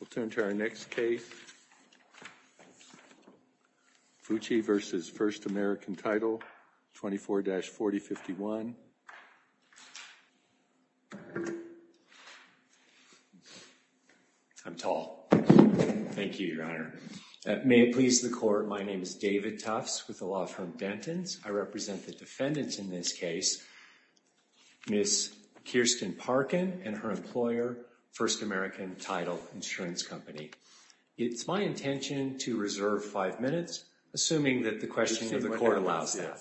We'll turn to our next case. Fucci v. First American Title, 24-4051. I'm tall. Thank you, Your Honor. May it please the court. My name is David Tufts with the law firm Denton's. I represent the defendants in this case. Miss Kirsten Parkin and her employer, First American Title Insurance Company. It's my intention to reserve five minutes, assuming that the question of the court allows that.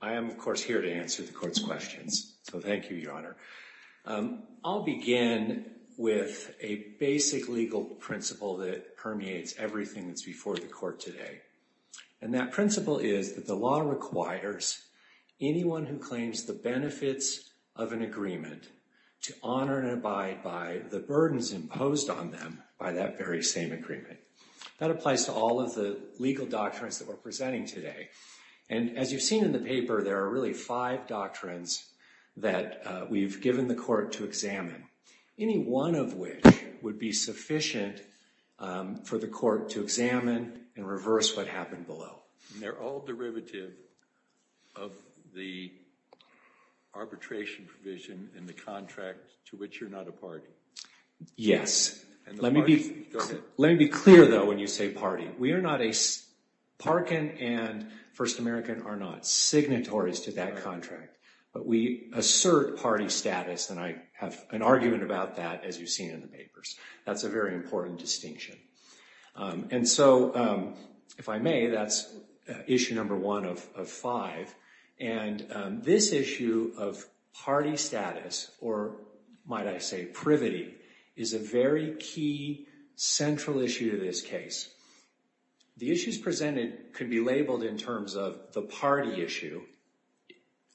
I am, of course, here to answer the court's questions. So, thank you, Your Honor. I'll begin with a basic legal principle that permeates everything that's before the court today. And that principle is that the law requires anyone who claims the benefits of an agreement to honor and abide by the burdens imposed on them by that very same agreement. That applies to all of the legal doctrines that we're presenting today. And as you've seen in the paper, there are really five doctrines that we've given the court to examine. Any one of which would be sufficient for the court to examine and reverse what happened below. They're all derivative of the arbitration provision in the contract to which you're not a party. Yes. Let me be clear, though, when you say party. We are not a—Parkin and First American are not signatories to that contract. But we assert party status, and I have an argument about that, as you've seen in the papers. That's a very important distinction. And so, if I may, that's issue number one of five. And this issue of party status, or might I say privity, is a very key central issue to this case. The issues presented could be labeled in terms of the party issue.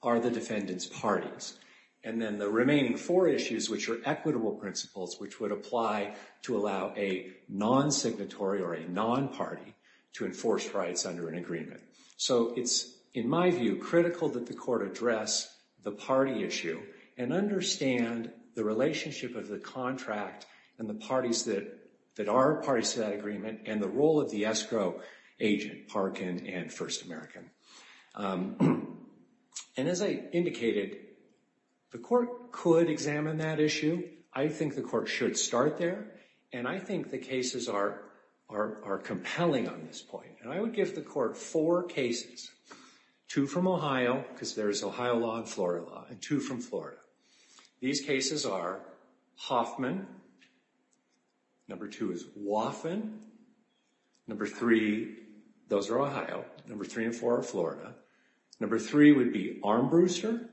Are the defendants parties? And then the remaining four issues, which are equitable principles, which would apply to allow a non-signatory or a non-party to enforce rights under an agreement. So, it's, in my view, critical that the court address the party issue and understand the relationship of the contract and the parties that are parties to that agreement, and the role of the escrow agent, Parkin and First American. And as I indicated, the court could examine that issue. I think the court should start there. And I think the cases are compelling on this point. And I would give the court four cases. Two from Ohio, because there's Ohio law and Florida law, and two from Florida. These cases are Hoffman, number two is Woffman, number three, those are Ohio, number three and four are Florida, number three would be Armbruster,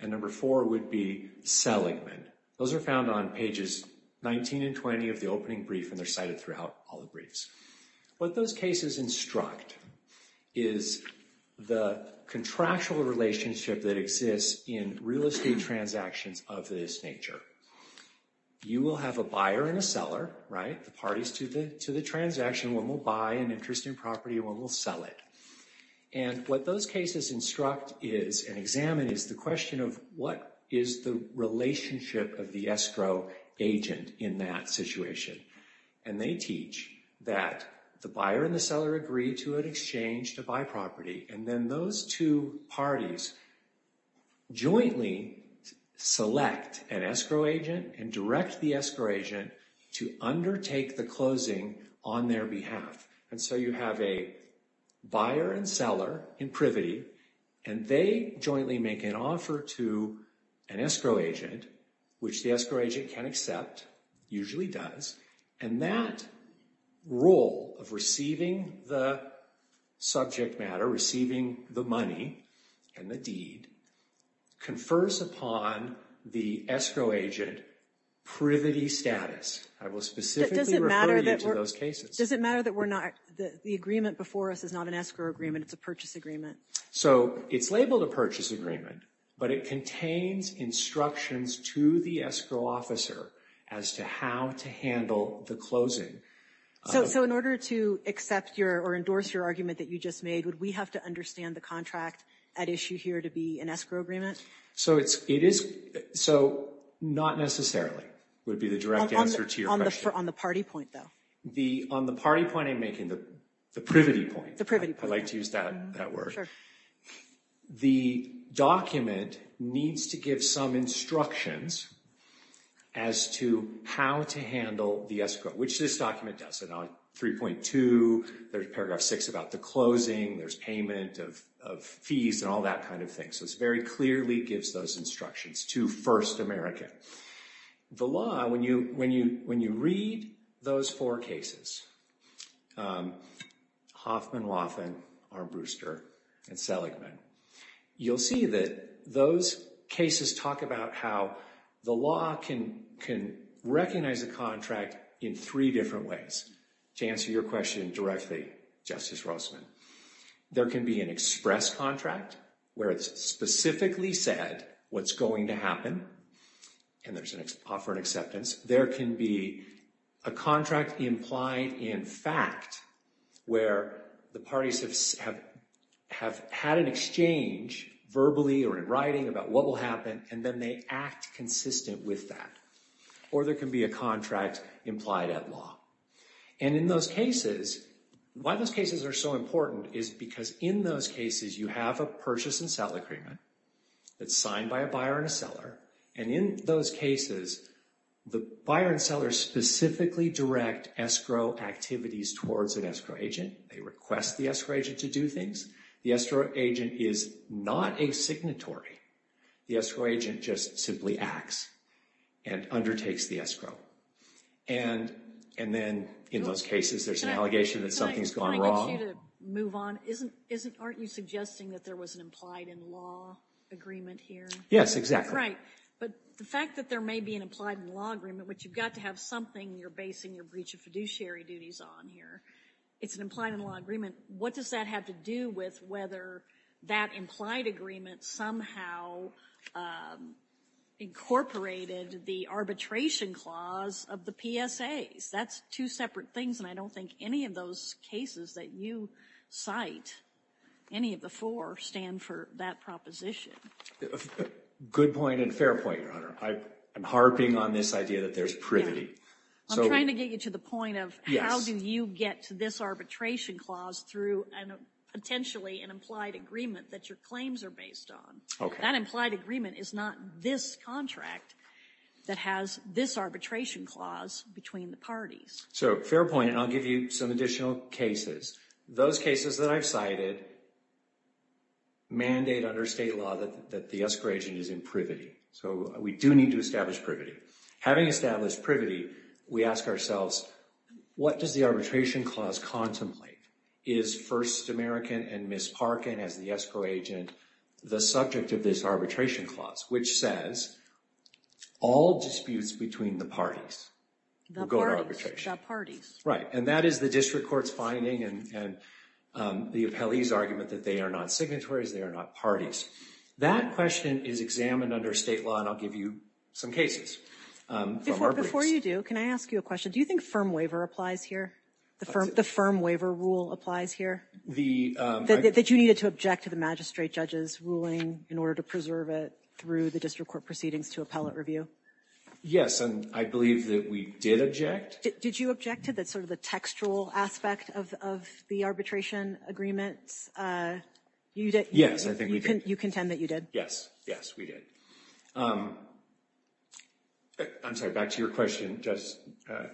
and number four would be Seligman. Those are found on pages 19 and 20 of the opening brief, and they're cited throughout all the briefs. What those cases instruct is the contractual relationship that exists in real estate transactions of this nature. You will have a buyer and a seller, right, the parties to the transaction. One will buy an interest in property, one will sell it. And what those cases instruct is, and examine, is the question of what is the relationship of the escrow agent in that situation. And they teach that the buyer and the seller agree to an exchange to buy property. And then those two parties jointly select an escrow agent and direct the escrow agent to undertake the closing on their behalf. And so you have a buyer and seller in privity, and they jointly make an offer to an escrow agent, which the escrow agent can accept, usually does, and that role of receiving the subject matter, receiving the money and the deed, confers upon the escrow agent privity status. I will specifically refer you to those cases. Does it matter that the agreement before us is not an escrow agreement, it's a purchase agreement? So it's labeled a purchase agreement, but it contains instructions to the escrow officer as to how to handle the closing. So in order to accept your, or endorse your argument that you just made, would we have to understand the contract at issue here to be an escrow agreement? So it is, so not necessarily would be the direct answer to your question. On the party point, though? On the party point I'm making, the privity point. The privity point. I like to use that word. Sure. The document needs to give some instructions as to how to handle the escrow, which this document does. And on 3.2, there's paragraph 6 about the closing, there's payment of fees and all that kind of thing. So it very clearly gives those instructions to First American. The law, when you read those four cases, Hoffman, Laughlin, Armbruster, and Seligman, you'll see that those cases talk about how the law can recognize a contract in three different ways. To answer your question directly, Justice Rossman, there can be an express contract where it's specifically said what's going to happen and there's an offer and acceptance. There can be a contract implied in fact where the parties have had an exchange verbally or in writing about what will happen and then they act consistent with that. Or there can be a contract implied at law. And in those cases, why those cases are so important is because in those cases, you have a purchase and sell agreement that's signed by a buyer and a seller. And in those cases, the buyer and seller specifically direct escrow activities towards an escrow agent. They request the escrow agent to do things. The escrow agent is not a signatory. The escrow agent just simply acts and undertakes the escrow. And then in those cases, there's an allegation that something's gone wrong. Can I ask you to move on? Aren't you suggesting that there was an implied in law agreement here? Yes, exactly. Right. But the fact that there may be an implied in law agreement, which you've got to have something you're basing your breach of fiduciary duties on here. It's an implied in law agreement. What does that have to do with whether that implied agreement somehow incorporated the arbitration clause of the PSAs? That's two separate things, and I don't think any of those cases that you cite, any of the four, stand for that proposition. Good point and fair point, Your Honor. I'm harping on this idea that there's privity. I'm trying to get you to the point of how do you get to this arbitration clause through potentially an implied agreement that your claims are based on? That implied agreement is not this contract that has this arbitration clause between the parties. So fair point, and I'll give you some additional cases. Those cases that I've cited mandate under state law that the escrow agent is in privity. So we do need to establish privity. Having established privity, we ask ourselves, what does the arbitration clause contemplate? Is First American and Ms. Parkin as the escrow agent the subject of this arbitration clause, which says all disputes between the parties will go to arbitration. The parties. Right, and that is the district court's finding and the appellee's argument that they are not signatories, they are not parties. That question is examined under state law, and I'll give you some cases. Before you do, can I ask you a question? Do you think firm waiver applies here? The firm waiver rule applies here? That you needed to object to the magistrate judge's ruling in order to preserve it through the district court proceedings to appellate review? Yes, and I believe that we did object. Did you object to sort of the textual aspect of the arbitration agreement? Yes, I think we did. You contend that you did? Yes, yes, we did. I'm sorry, back to your question, Judge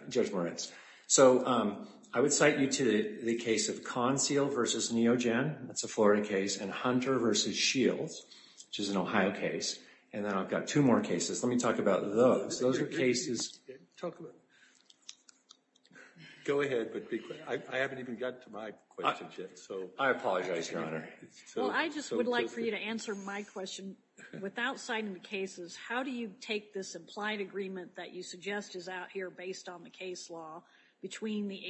Moretz. So, I would cite you to the case of Conseal v. Neogen. That's a Florida case. And Hunter v. Shields, which is an Ohio case. And then I've got two more cases. Let me talk about those. Those are cases. Go ahead, but be quick. I haven't even gotten to my question yet. I apologize, Your Honor. Well, I just would like for you to answer my question. Without citing the cases, how do you take this implied agreement that you suggest is out here based on the case law between the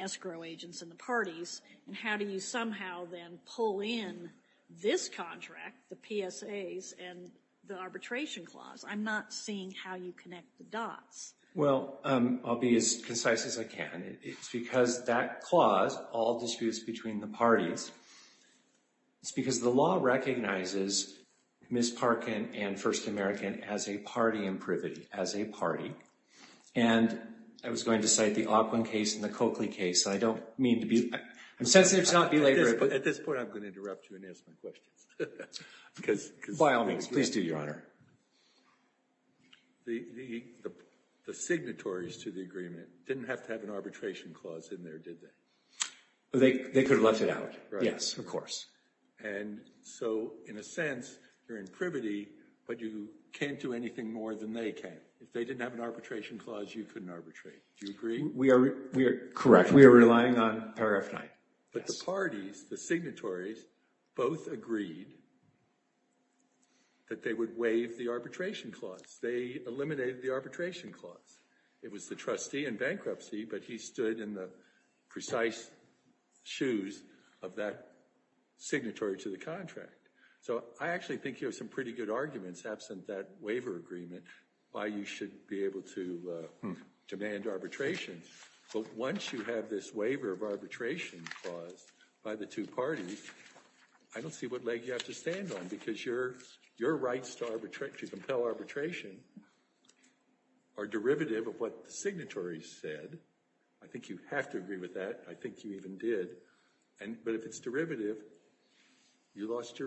escrow agents and the parties, and how do you somehow then pull in this contract, the PSAs, and the arbitration clause? I'm not seeing how you connect the dots. Well, I'll be as concise as I can. It's because that clause, all disputes between the parties, it's because the law recognizes Ms. Parkin and First American as a party in privity, as a party. And I was going to cite the Auquin case and the Coakley case. I don't mean to be, I'm sensitive to not be late. At this point, I'm going to interrupt you and ask my questions. By all means, please do, Your Honor. The signatories to the agreement didn't have to have an arbitration clause in there, did they? They could have left it out. Yes, of course. And so, in a sense, you're in privity, but you can't do anything more than they can. If they didn't have an arbitration clause, you couldn't arbitrate. Do you agree? Correct. We are relying on paragraph 9. But the parties, the signatories, both agreed that they would waive the arbitration clause. They eliminated the arbitration clause. It was the trustee in bankruptcy, but he stood in the precise shoes of that signatory to the contract. So I actually think you have some pretty good arguments absent that waiver agreement, why you should be able to demand arbitration. But once you have this waiver of arbitration clause by the two parties, I don't see what leg you have to stand on, because your rights to compel arbitration are derivative of what the signatory said. I think you have to agree with that. I think you even did. But if it's derivative, you lost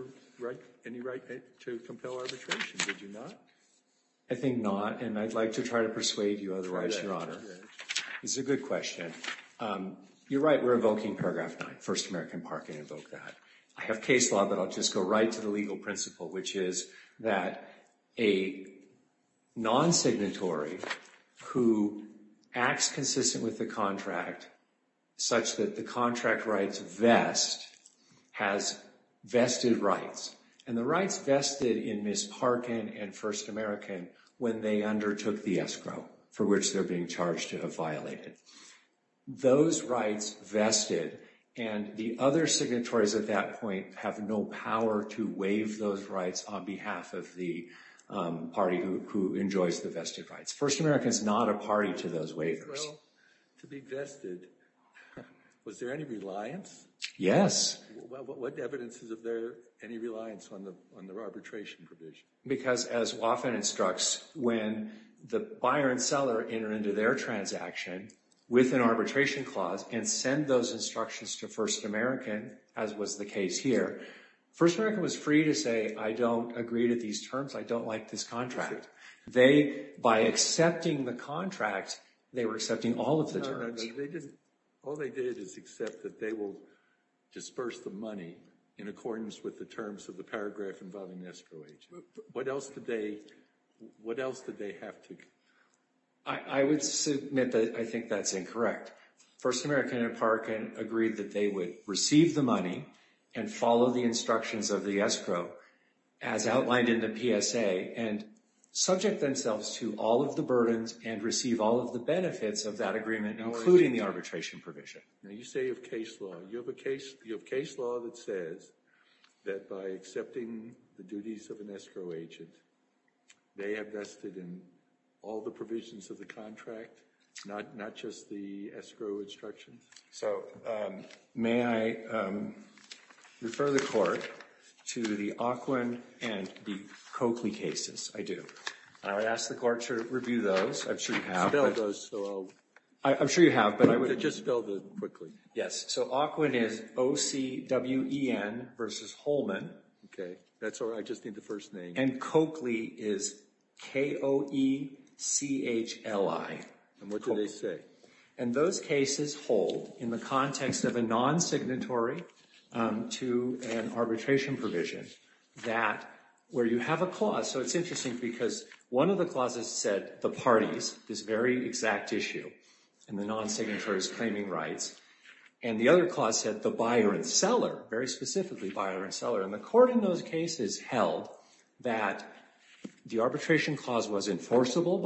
any right to compel arbitration, did you not? I think not, and I'd like to try to persuade you otherwise, Your Honor. It's a good question. You're right, we're invoking paragraph 9, First American Park, and invoke that. I have case law, but I'll just go right to the legal principle, which is that a non-signatory who acts consistent with the contract, such that the contract rights vest, has vested rights. And the rights vested in Ms. Parkin and First American when they undertook the escrow, for which they're being charged to have violated. Those rights vested, and the other signatories at that point have no power to waive those rights on behalf of the party who enjoys the vested rights. First American's not a party to those waivers. To be vested, was there any reliance? Yes. What evidence is there of any reliance on their arbitration provision? Because as Woffen instructs, when the buyer and seller enter into their transaction with an arbitration clause, and send those instructions to First American, as was the case here, First American was free to say, I don't agree to these terms, I don't like this contract. They, by accepting the contract, they were accepting all of the terms. All they did is accept that they will disperse the money in accordance with the terms of the paragraph involving the escrow agent. What else did they, what else did they have to... I would submit that I think that's incorrect. First American and Parkin agreed that they would receive the money and follow the instructions of the escrow as outlined in the PSA and subject themselves to all of the burdens and receive all of the benefits of that agreement including the arbitration provision. Now you say you have case law. You have case law that says that by accepting the duties of an escrow agent they have vested in all the provisions of the contract not just the escrow instructions? So, may I refer the court to the Auquin and the Coakley cases? I do. I would ask the court to review those. I'm sure you have. Spell those so I'll... Just spell them quickly. So Auquin is O-C-W-E-N versus Holman. That's all right, I just need the first name. And Coakley is K-O-E-C-H-L-I. And what do they say? And those cases hold in the context of a non-signatory to an arbitration provision that where you have a clause. So it's interesting because one of the clauses said the parties, this very exact issue in the non-signatories claiming rights. And the other clause said the buyer and seller. Very specifically buyer and seller. And the court in those cases held that the arbitration clause was enforceable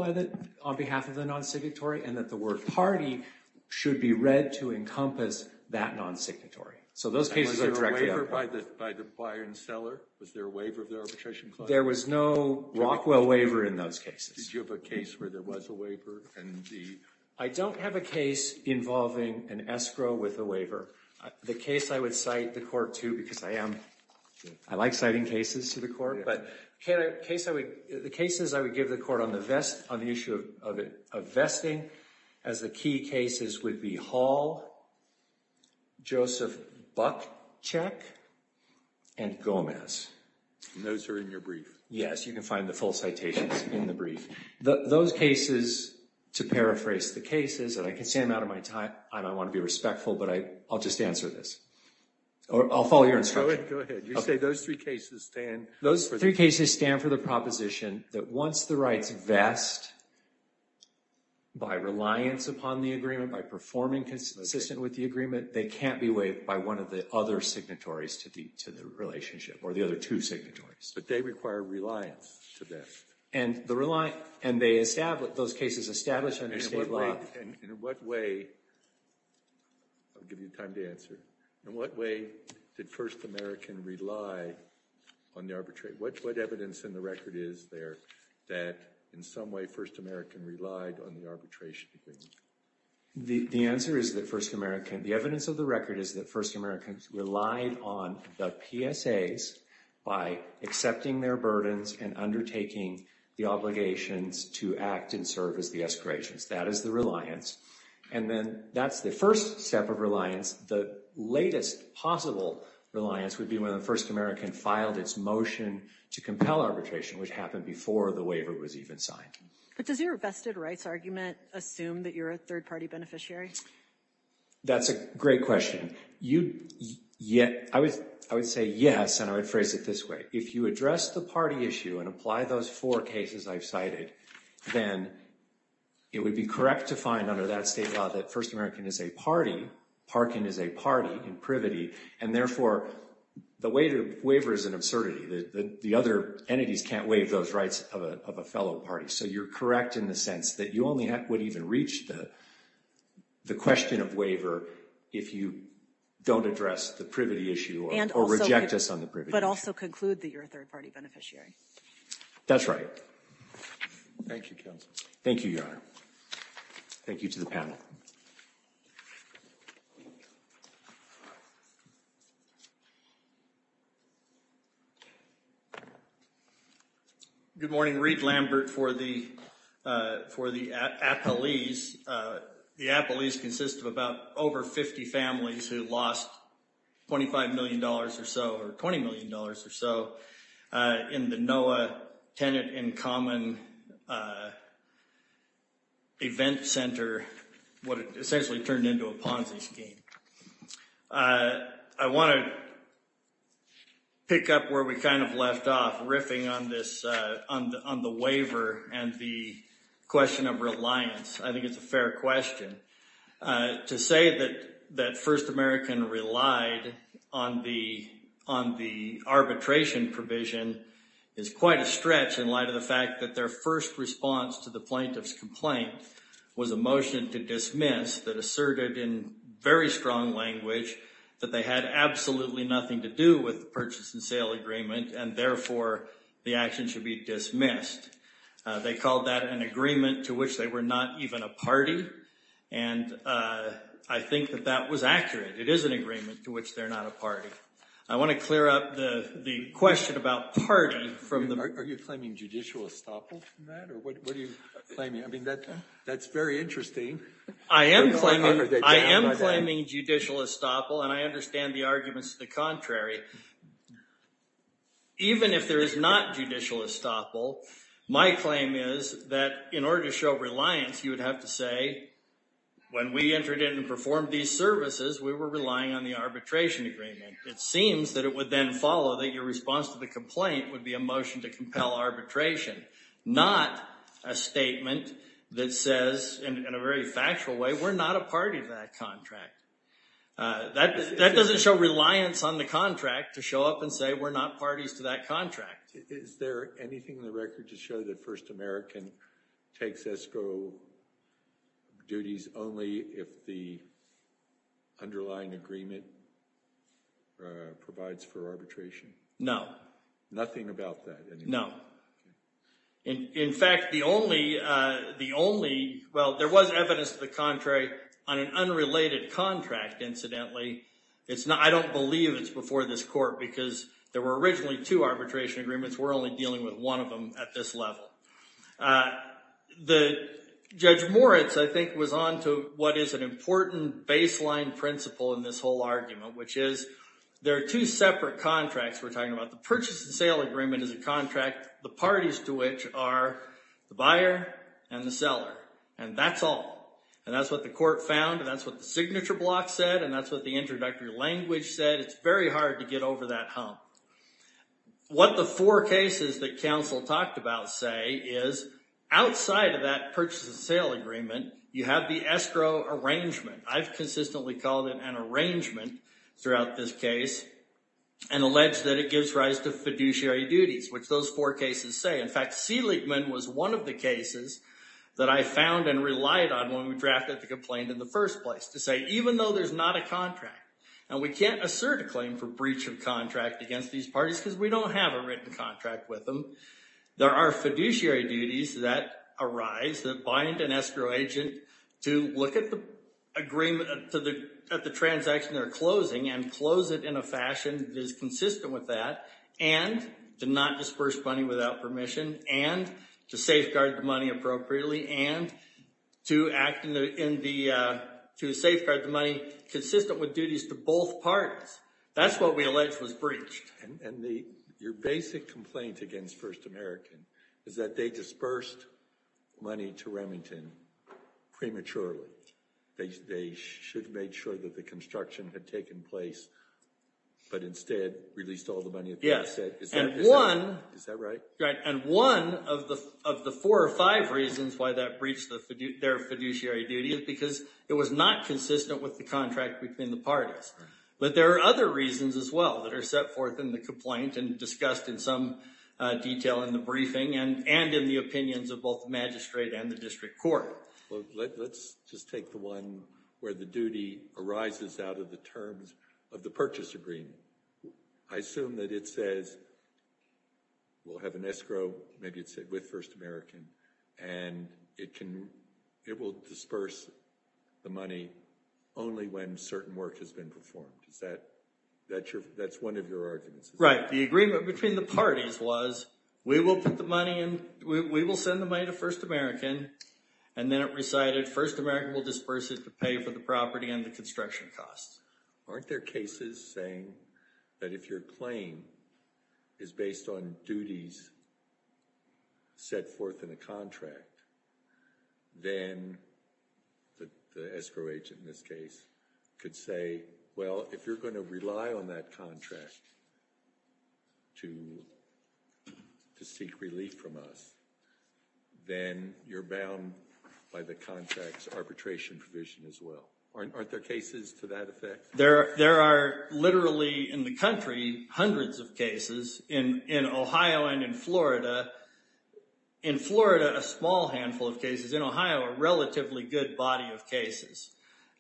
on behalf of the non-signatory and that the word party should be read to encompass that non-signatory. Was there a waiver by the buyer and seller? Was there a waiver of the arbitration clause? There was no Rockwell waiver in those cases. Did you have a case where there was a waiver? I don't have a case involving an escrow with a waiver. The case I would cite the court to because I am, I like citing cases to the court, but the cases I would give the court on the issue of vesting as the key cases would be Hall, Joseph Buck Check, and Gomez. And those are in your brief. Yes, you can find the full citations in the brief. Those cases to paraphrase the cases and I can say them out of my time. I don't want to be respectful, but I'll just answer this. Or I'll follow your instruction. Go ahead. You say those three cases stand. Those three cases stand for the proposition that once the rights vest by reliance upon the agreement, by performing consistent with the agreement, they can't be waived by one of the other signatories to the relationship or the other two signatories. But they require reliance to that. And they established those cases established under state law. And in what way I'll give you time to answer in what way did First American rely on the record is there that in some way First American relied on the arbitration agreement? The answer is that First American the evidence of the record is that First American relied on the PSAs by accepting their burdens and undertaking the obligations to act and serve as the escalations. That is the reliance. And then that's the first step of reliance. The latest possible reliance would be when the First American filed its motion to compel arbitration which happened before the waiver was even signed. But does your vested rights argument assume that you're a third party beneficiary? That's a great question. I would say yes and I would phrase it this way. If you address the party issue and apply those four cases I've cited, then it would be correct to find under that state law that First American is a party. Parkin is a party in privity. And therefore the waiver is an absurdity. The other entities can't waive those rights of a fellow party. So you're correct in the sense that you only would even reach the question of waiver if you don't address the privity issue or reject us on the privity issue. But also conclude that you're a third party beneficiary. That's right. Thank you counsel. Thank you Your Honor. Thank you to the panel. Good morning. Reid Lambert for the Appalese. The Appalese consists of about over 50 families who lost 25 million dollars or so or 20 million dollars or so in the NOAA Tenant in Common Event Center what essentially turned into a Ponzi scheme. I want to pick up where we kind of left off riffing on this waiver and the question of reliance. I think it's a fair question. To say that First American relied on the arbitration provision is quite a stretch in light of the fact that their first response to the plaintiff's complaint was a motion to dismiss that asserted in very strong language that they had absolutely nothing to do with the purchase and sale agreement and therefore the action should be dismissed. They called that an agreement to which they were not even a party and I think that that was accurate. It is an agreement to which they're not a party. I want to clear up the question about party from the... Are you claiming judicial estoppel from that? What are you claiming? That's very interesting. I am claiming judicial estoppel and I understand the arguments to the contrary. Even if there is not judicial estoppel my claim is that in order to show reliance you would have to say when we entered in and performed these services we were relying on the arbitration agreement. It seems that it would then follow that your response to the complaint would be a motion to compel arbitration. Not a statement that says in a very factual way we're not a party to that That doesn't show reliance on the contract to show up and say we're not parties to that contract. Is there anything in the record to show that First American takes ESCO duties only if the underlying agreement provides for arbitration? No. Nothing about that. No. In fact the only well there was evidence to the contrary on an unrelated contract incidentally I don't believe it's before this court because there were originally two arbitration agreements. We're only dealing with one of them at this level. Judge Moritz I think was on to what is an important baseline principle in this whole argument which is there are two separate contracts we're talking about the purchase and sale agreement is a contract the parties to which are the buyer and the seller and that's all and that's what the court found and that's what the signature block said and that's what the introductory language said. It's very hard to get over that hump. What the four cases that counsel talked about say is outside of that purchase and sale agreement you have the ESCO arrangement. I've consistently called it an arrangement throughout this case and alleged that it gives rise to fiduciary duties which those four cases say. In fact Seligman was one of the cases that I found and relied on when we drafted the complaint in the first place to say even though there's not a contract and we can't assert a claim for breach of contract against these parties because we don't have a written contract with them there are fiduciary duties that arise that bind an ESCO agent to look at the agreement at the transaction they're closing and close it in a fashion that is consistent with that and to not disperse money without permission and to safeguard the money appropriately and to act in the to safeguard the money consistent with duties to both parties. That's what we allege was breached. And your basic complaint against First American is that they dispersed money to Remington prematurely. They should have made sure that the construction had taken place but instead released all the money. Is that right? And one of the four or five reasons why that breached their fiduciary duties is because it was not consistent with the contract between the parties. But there are other reasons as well that are set forth in the complaint and discussed in some detail in the briefing and in the opinions of both magistrate and the district court. Let's just take the one where the duty arises out of the terms of the purchase agreement. I assume that it says we'll have an escrow, maybe it said with First American, and it can, it will disperse the money only when certain work has been performed. Is that, that's one of your arguments? Right. The agreement between the parties was we will put the money in, we will send the money to First American, and then it recited First American will disperse it to pay for the property and the construction costs. Aren't there cases saying that if your claim is based on duties set forth in a contract then the escrow agent in this case could say, well if you're going to rely on that contract to seek relief from us, then you're bound by the contract's arbitration provision as well. Aren't there cases to that effect? There are literally in the country hundreds of cases in Ohio and in Florida. In Florida, a small handful of cases. In Ohio, a relatively good body of cases.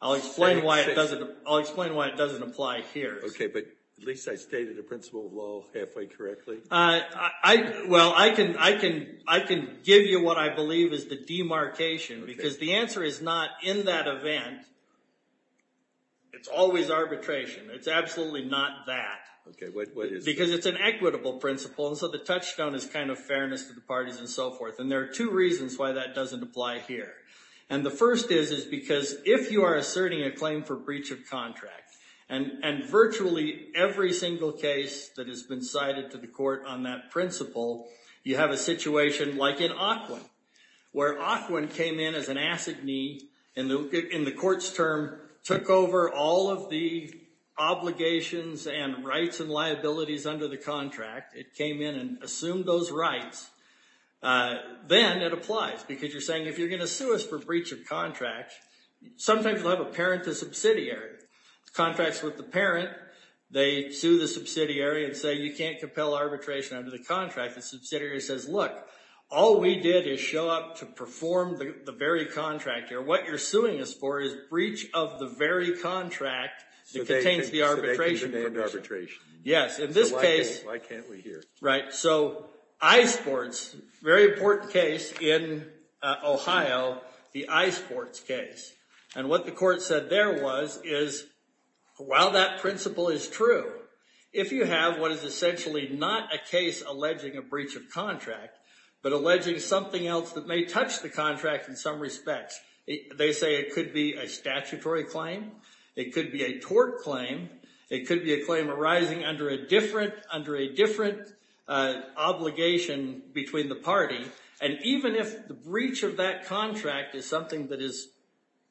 I'll explain why it doesn't apply here. Okay, but at least I stated the principle of law halfway correctly. Well, I can give you what I believe is the demarcation, because the answer is not in that event. It's always arbitration. It's absolutely not that. Because it's an equitable principle, and so the touchstone is kind of fairness to the parties and so forth. And there are two reasons why that doesn't apply here. And the first is because if you are asserting a claim for breach of contract, and virtually every single case that has been cited to the court on that principle, you have a situation like in Aukwin, where Aukwin came in as an assignee in the court's term, took over all of the obligations and rights and liabilities under the contract. It came in and assumed those rights. Then it applies, because you're saying if you're going to sue us for breach of contract, sometimes you'll have a parent to subsidiary. Contracts with the parent, they sue the subsidiary and say, you can't compel arbitration under the contract. The subsidiary says, look, all we did is show up to perform the very contract. What you're suing us for is breach of the very contract that contains the arbitration. Yes, in this case, so iSports, very important case in Ohio, the iSports case. And what the court said there was, while that principle is true, if you have what is essentially not a case alleging a breach of contract, but alleging something else that may touch the contract in some respects, they say it could be a statutory claim, it could be a tort claim, it could be a claim arising under a different obligation between the party, and even if the breach of that contract is something that is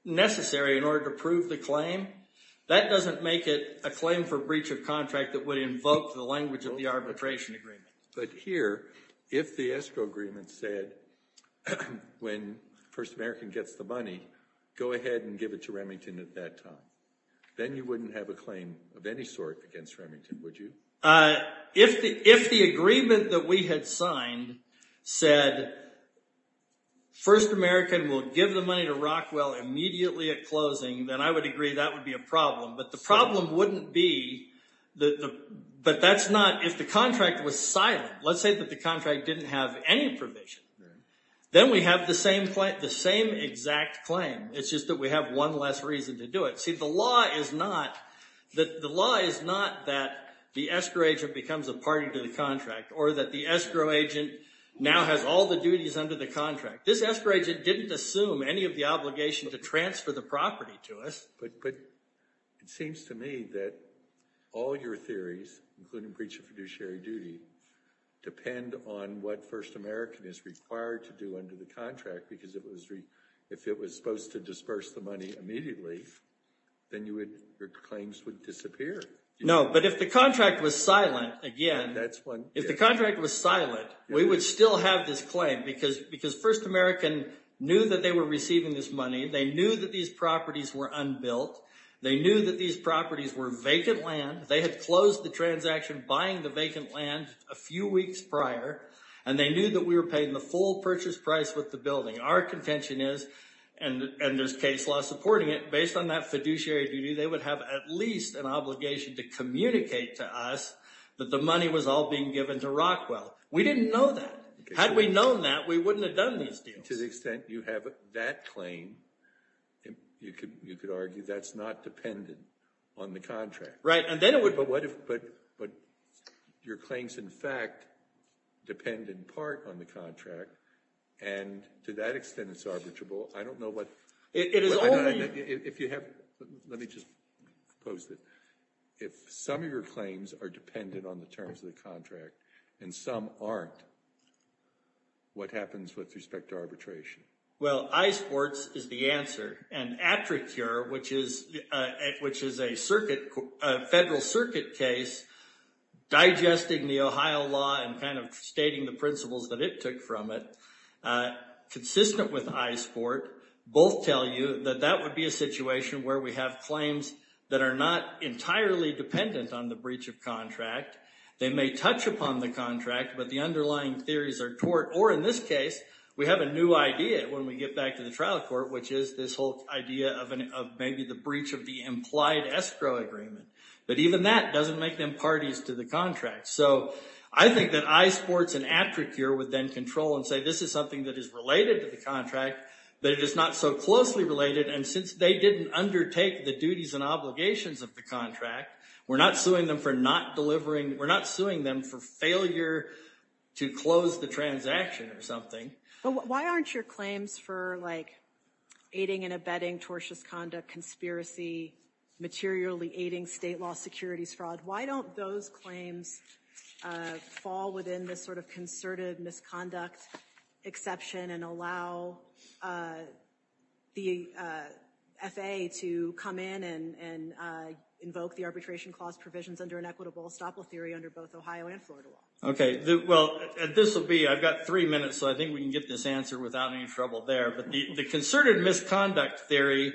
a claim, that doesn't make it a claim for breach of contract that would invoke the language of the arbitration agreement. But here, if the ESCO agreement said when First American gets the money, go ahead and give it to Remington at that time, then you wouldn't have a claim of any sort against Remington, would you? If the agreement that we had signed said First American will give the money to Rockwell immediately at closing, then I would agree that would be a problem, but the problem wouldn't be that that's not, if the contract was silent, let's say that the contract didn't have any provision, then we have the same exact claim. It's just that we have one less reason to do it. See, the law is not that the ESCO agent becomes a party to the contract, or that the ESCO agent now has all the duties under the contract. This ESCO agent didn't assume any of the obligation to transfer the property to us. It seems to me that all your theories, including breach of fiduciary duty, depend on what First American is required to do under the contract, because if it was supposed to disperse the money immediately, then your claims would disappear. No, but if the contract was silent, again, if the contract was silent, we would still have this claim, because First American knew that they were receiving this money, they knew that these properties were unbuilt, they knew that these properties were vacant land, they had closed the transaction buying the vacant land a few weeks prior, and they knew that we were paying the full purchase price with the building. Our contention is, and there's case law supporting it, based on that fiduciary duty, they would have at least an obligation to communicate to us that the money was all being given to Rockwell. We didn't know that. Had we known that, we wouldn't have done these deals. To the extent you have that claim, you could argue that's not dependent on the contract. But your claims, in fact, depend in part on the contract, and to that extent it's arbitrable. Let me just post it. If some of your claims are dependent on the terms of the contract and some aren't, what happens with respect to arbitration? Well, iSports is the answer, and Attracure, which is a federal circuit case, digesting the Ohio law and kind of stating the principles that it took from it, consistent with iSport, both tell you that that would be a situation where we have claims that are not entirely dependent on the breach of contract. They may touch upon the contract, but the underlying theories are tort, or in this case, we have a new idea when we get back to the trial court, which is this whole idea of maybe the breach of the implied escrow agreement. But even that doesn't make them parties to the contract. I think that iSports and Attracure would then control and say this is something that is related to the contract, but it is not so closely related, and since they didn't undertake the duties and obligations of the contract, we're not suing them for not delivering, we're not suing them for failure to close the transaction or something. But why aren't your claims for like aiding and abetting tortious conduct, conspiracy, materially aiding state law securities fraud, why don't those claims fall within this sort of concerted misconduct exception and allow the FAA to come in and invoke the arbitration clause provisions under an equitable theory under both Ohio and Florida law? Well, this will be, I've got three minutes, so I think we can get this answer without any trouble there. But the concerted misconduct theory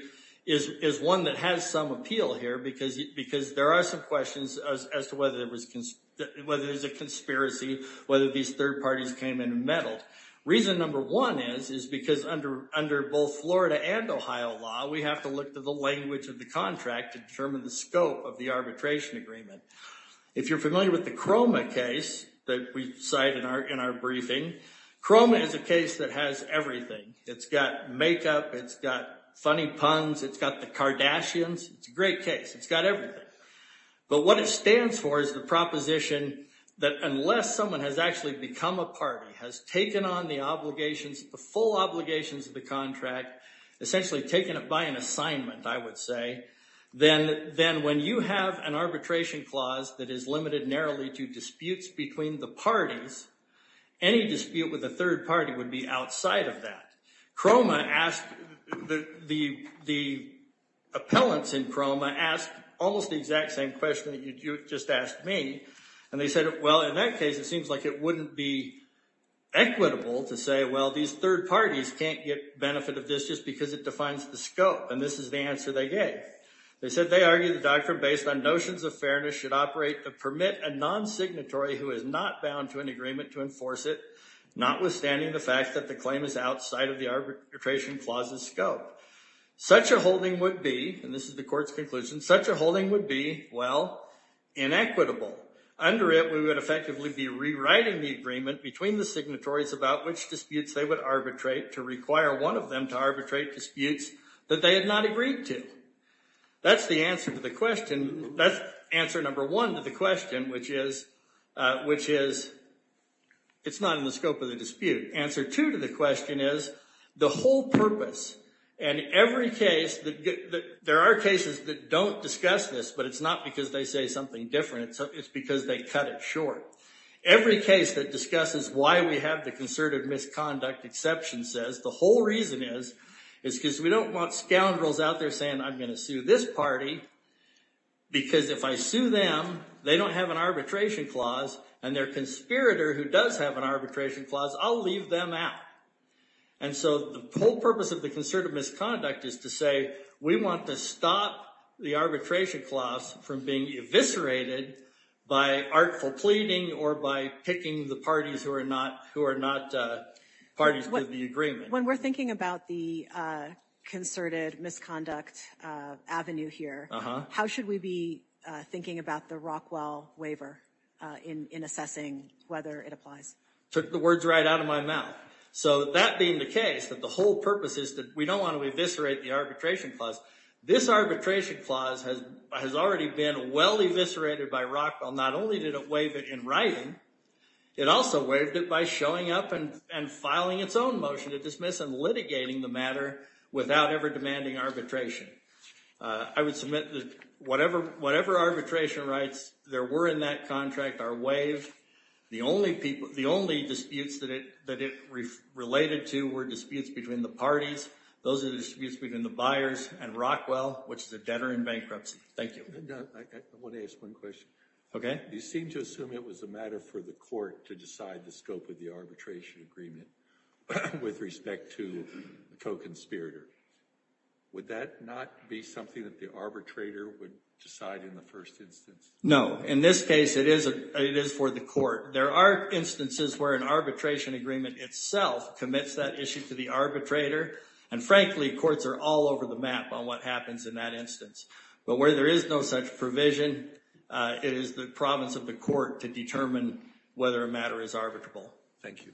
is one that has some appeal here, because there are some questions as to whether there's a conspiracy, whether these third parties came in and meddled. Reason number one is, is because under both Florida and Ohio law, we have to look to the language of the contract to determine the scope of the arbitration agreement. If you're familiar with the CROMA case that we cite in our briefing, CROMA is a case that has everything. It's got makeup, it's got funny puns, it's got the Kardashians, it's a great case. It's got everything. But what it stands for is the proposition that unless someone has actually become a party, has taken on the obligations, the full obligations of the contract, essentially taken it by an assignment I would say, then when you have an arbitration clause that is limited narrowly to disputes between the parties, any dispute with the third party would be outside of that. CROMA asked, the appellants in CROMA asked almost the exact same question that you just asked me, and they said, well, in that case it seems like it wouldn't be equitable to say, well, these third parties can't get benefit of this just because it defines the scope, and this is the answer they gave. They said they argued the doctrine based on notions of fairness should operate to permit a non-signatory who is not bound to an agreement to enforce it, notwithstanding the fact that the claim is outside of the arbitration clause's scope. Such a holding would be, and this is the court's conclusion, such a holding would be, well, inequitable. Under it we would effectively be rewriting the agreement between the signatories about which disputes they would arbitrate to require one of them to arbitrate disputes that they had not agreed to. That's the answer to the question, that's answer number one to the question, which is, which is, it's not in the scope of the dispute. Answer two to the question is, the whole purpose, and every case that, there are cases that don't discuss this, but it's not because they say something different, it's because they cut it short. Every case that discusses why we have the concerted misconduct exception says, the whole reason is, is because we don't want scoundrels out there saying, I'm going to sue this party because if I sue them, they don't have an arbitration clause and their conspirator who does have an arbitration clause, I'll leave them out. And so the whole purpose of the concerted misconduct is to say we want to stop the arbitration clause from being eviscerated by artful pleading or by picking the parties who are not parties to the agreement. When we're thinking about the concerted misconduct avenue here, how should we be thinking about the Rockwell waiver in assessing whether it applies? Took the words right out of my mouth. So that being the case, that the whole purpose is that we don't want to eviscerate the arbitration clause. This arbitration clause has already been well eviscerated by Rockwell. Not only did it waive it in writing, it also waived it by showing up and filing its own motion to dismiss and litigating the matter without ever demanding arbitration. I would submit that whatever arbitration rights there were in that contract are waived. The only disputes that it related to were disputes between the parties. Those are disputes between the buyers and Rockwell, which is a debtor in bankruptcy. I want to ask one question. You seem to assume it was a matter for the court to decide the scope of the arbitration agreement with respect to the co-conspirator. Would that not be something that the arbitrator would decide in the first instance? No. In this case it is for the court. There are instances where an arbitration agreement itself commits that issue to the arbitrator, and frankly courts are all over the map on what happens in that instance. But where there is no such provision, it is the province of the court to determine whether a matter is arbitrable. Thank you.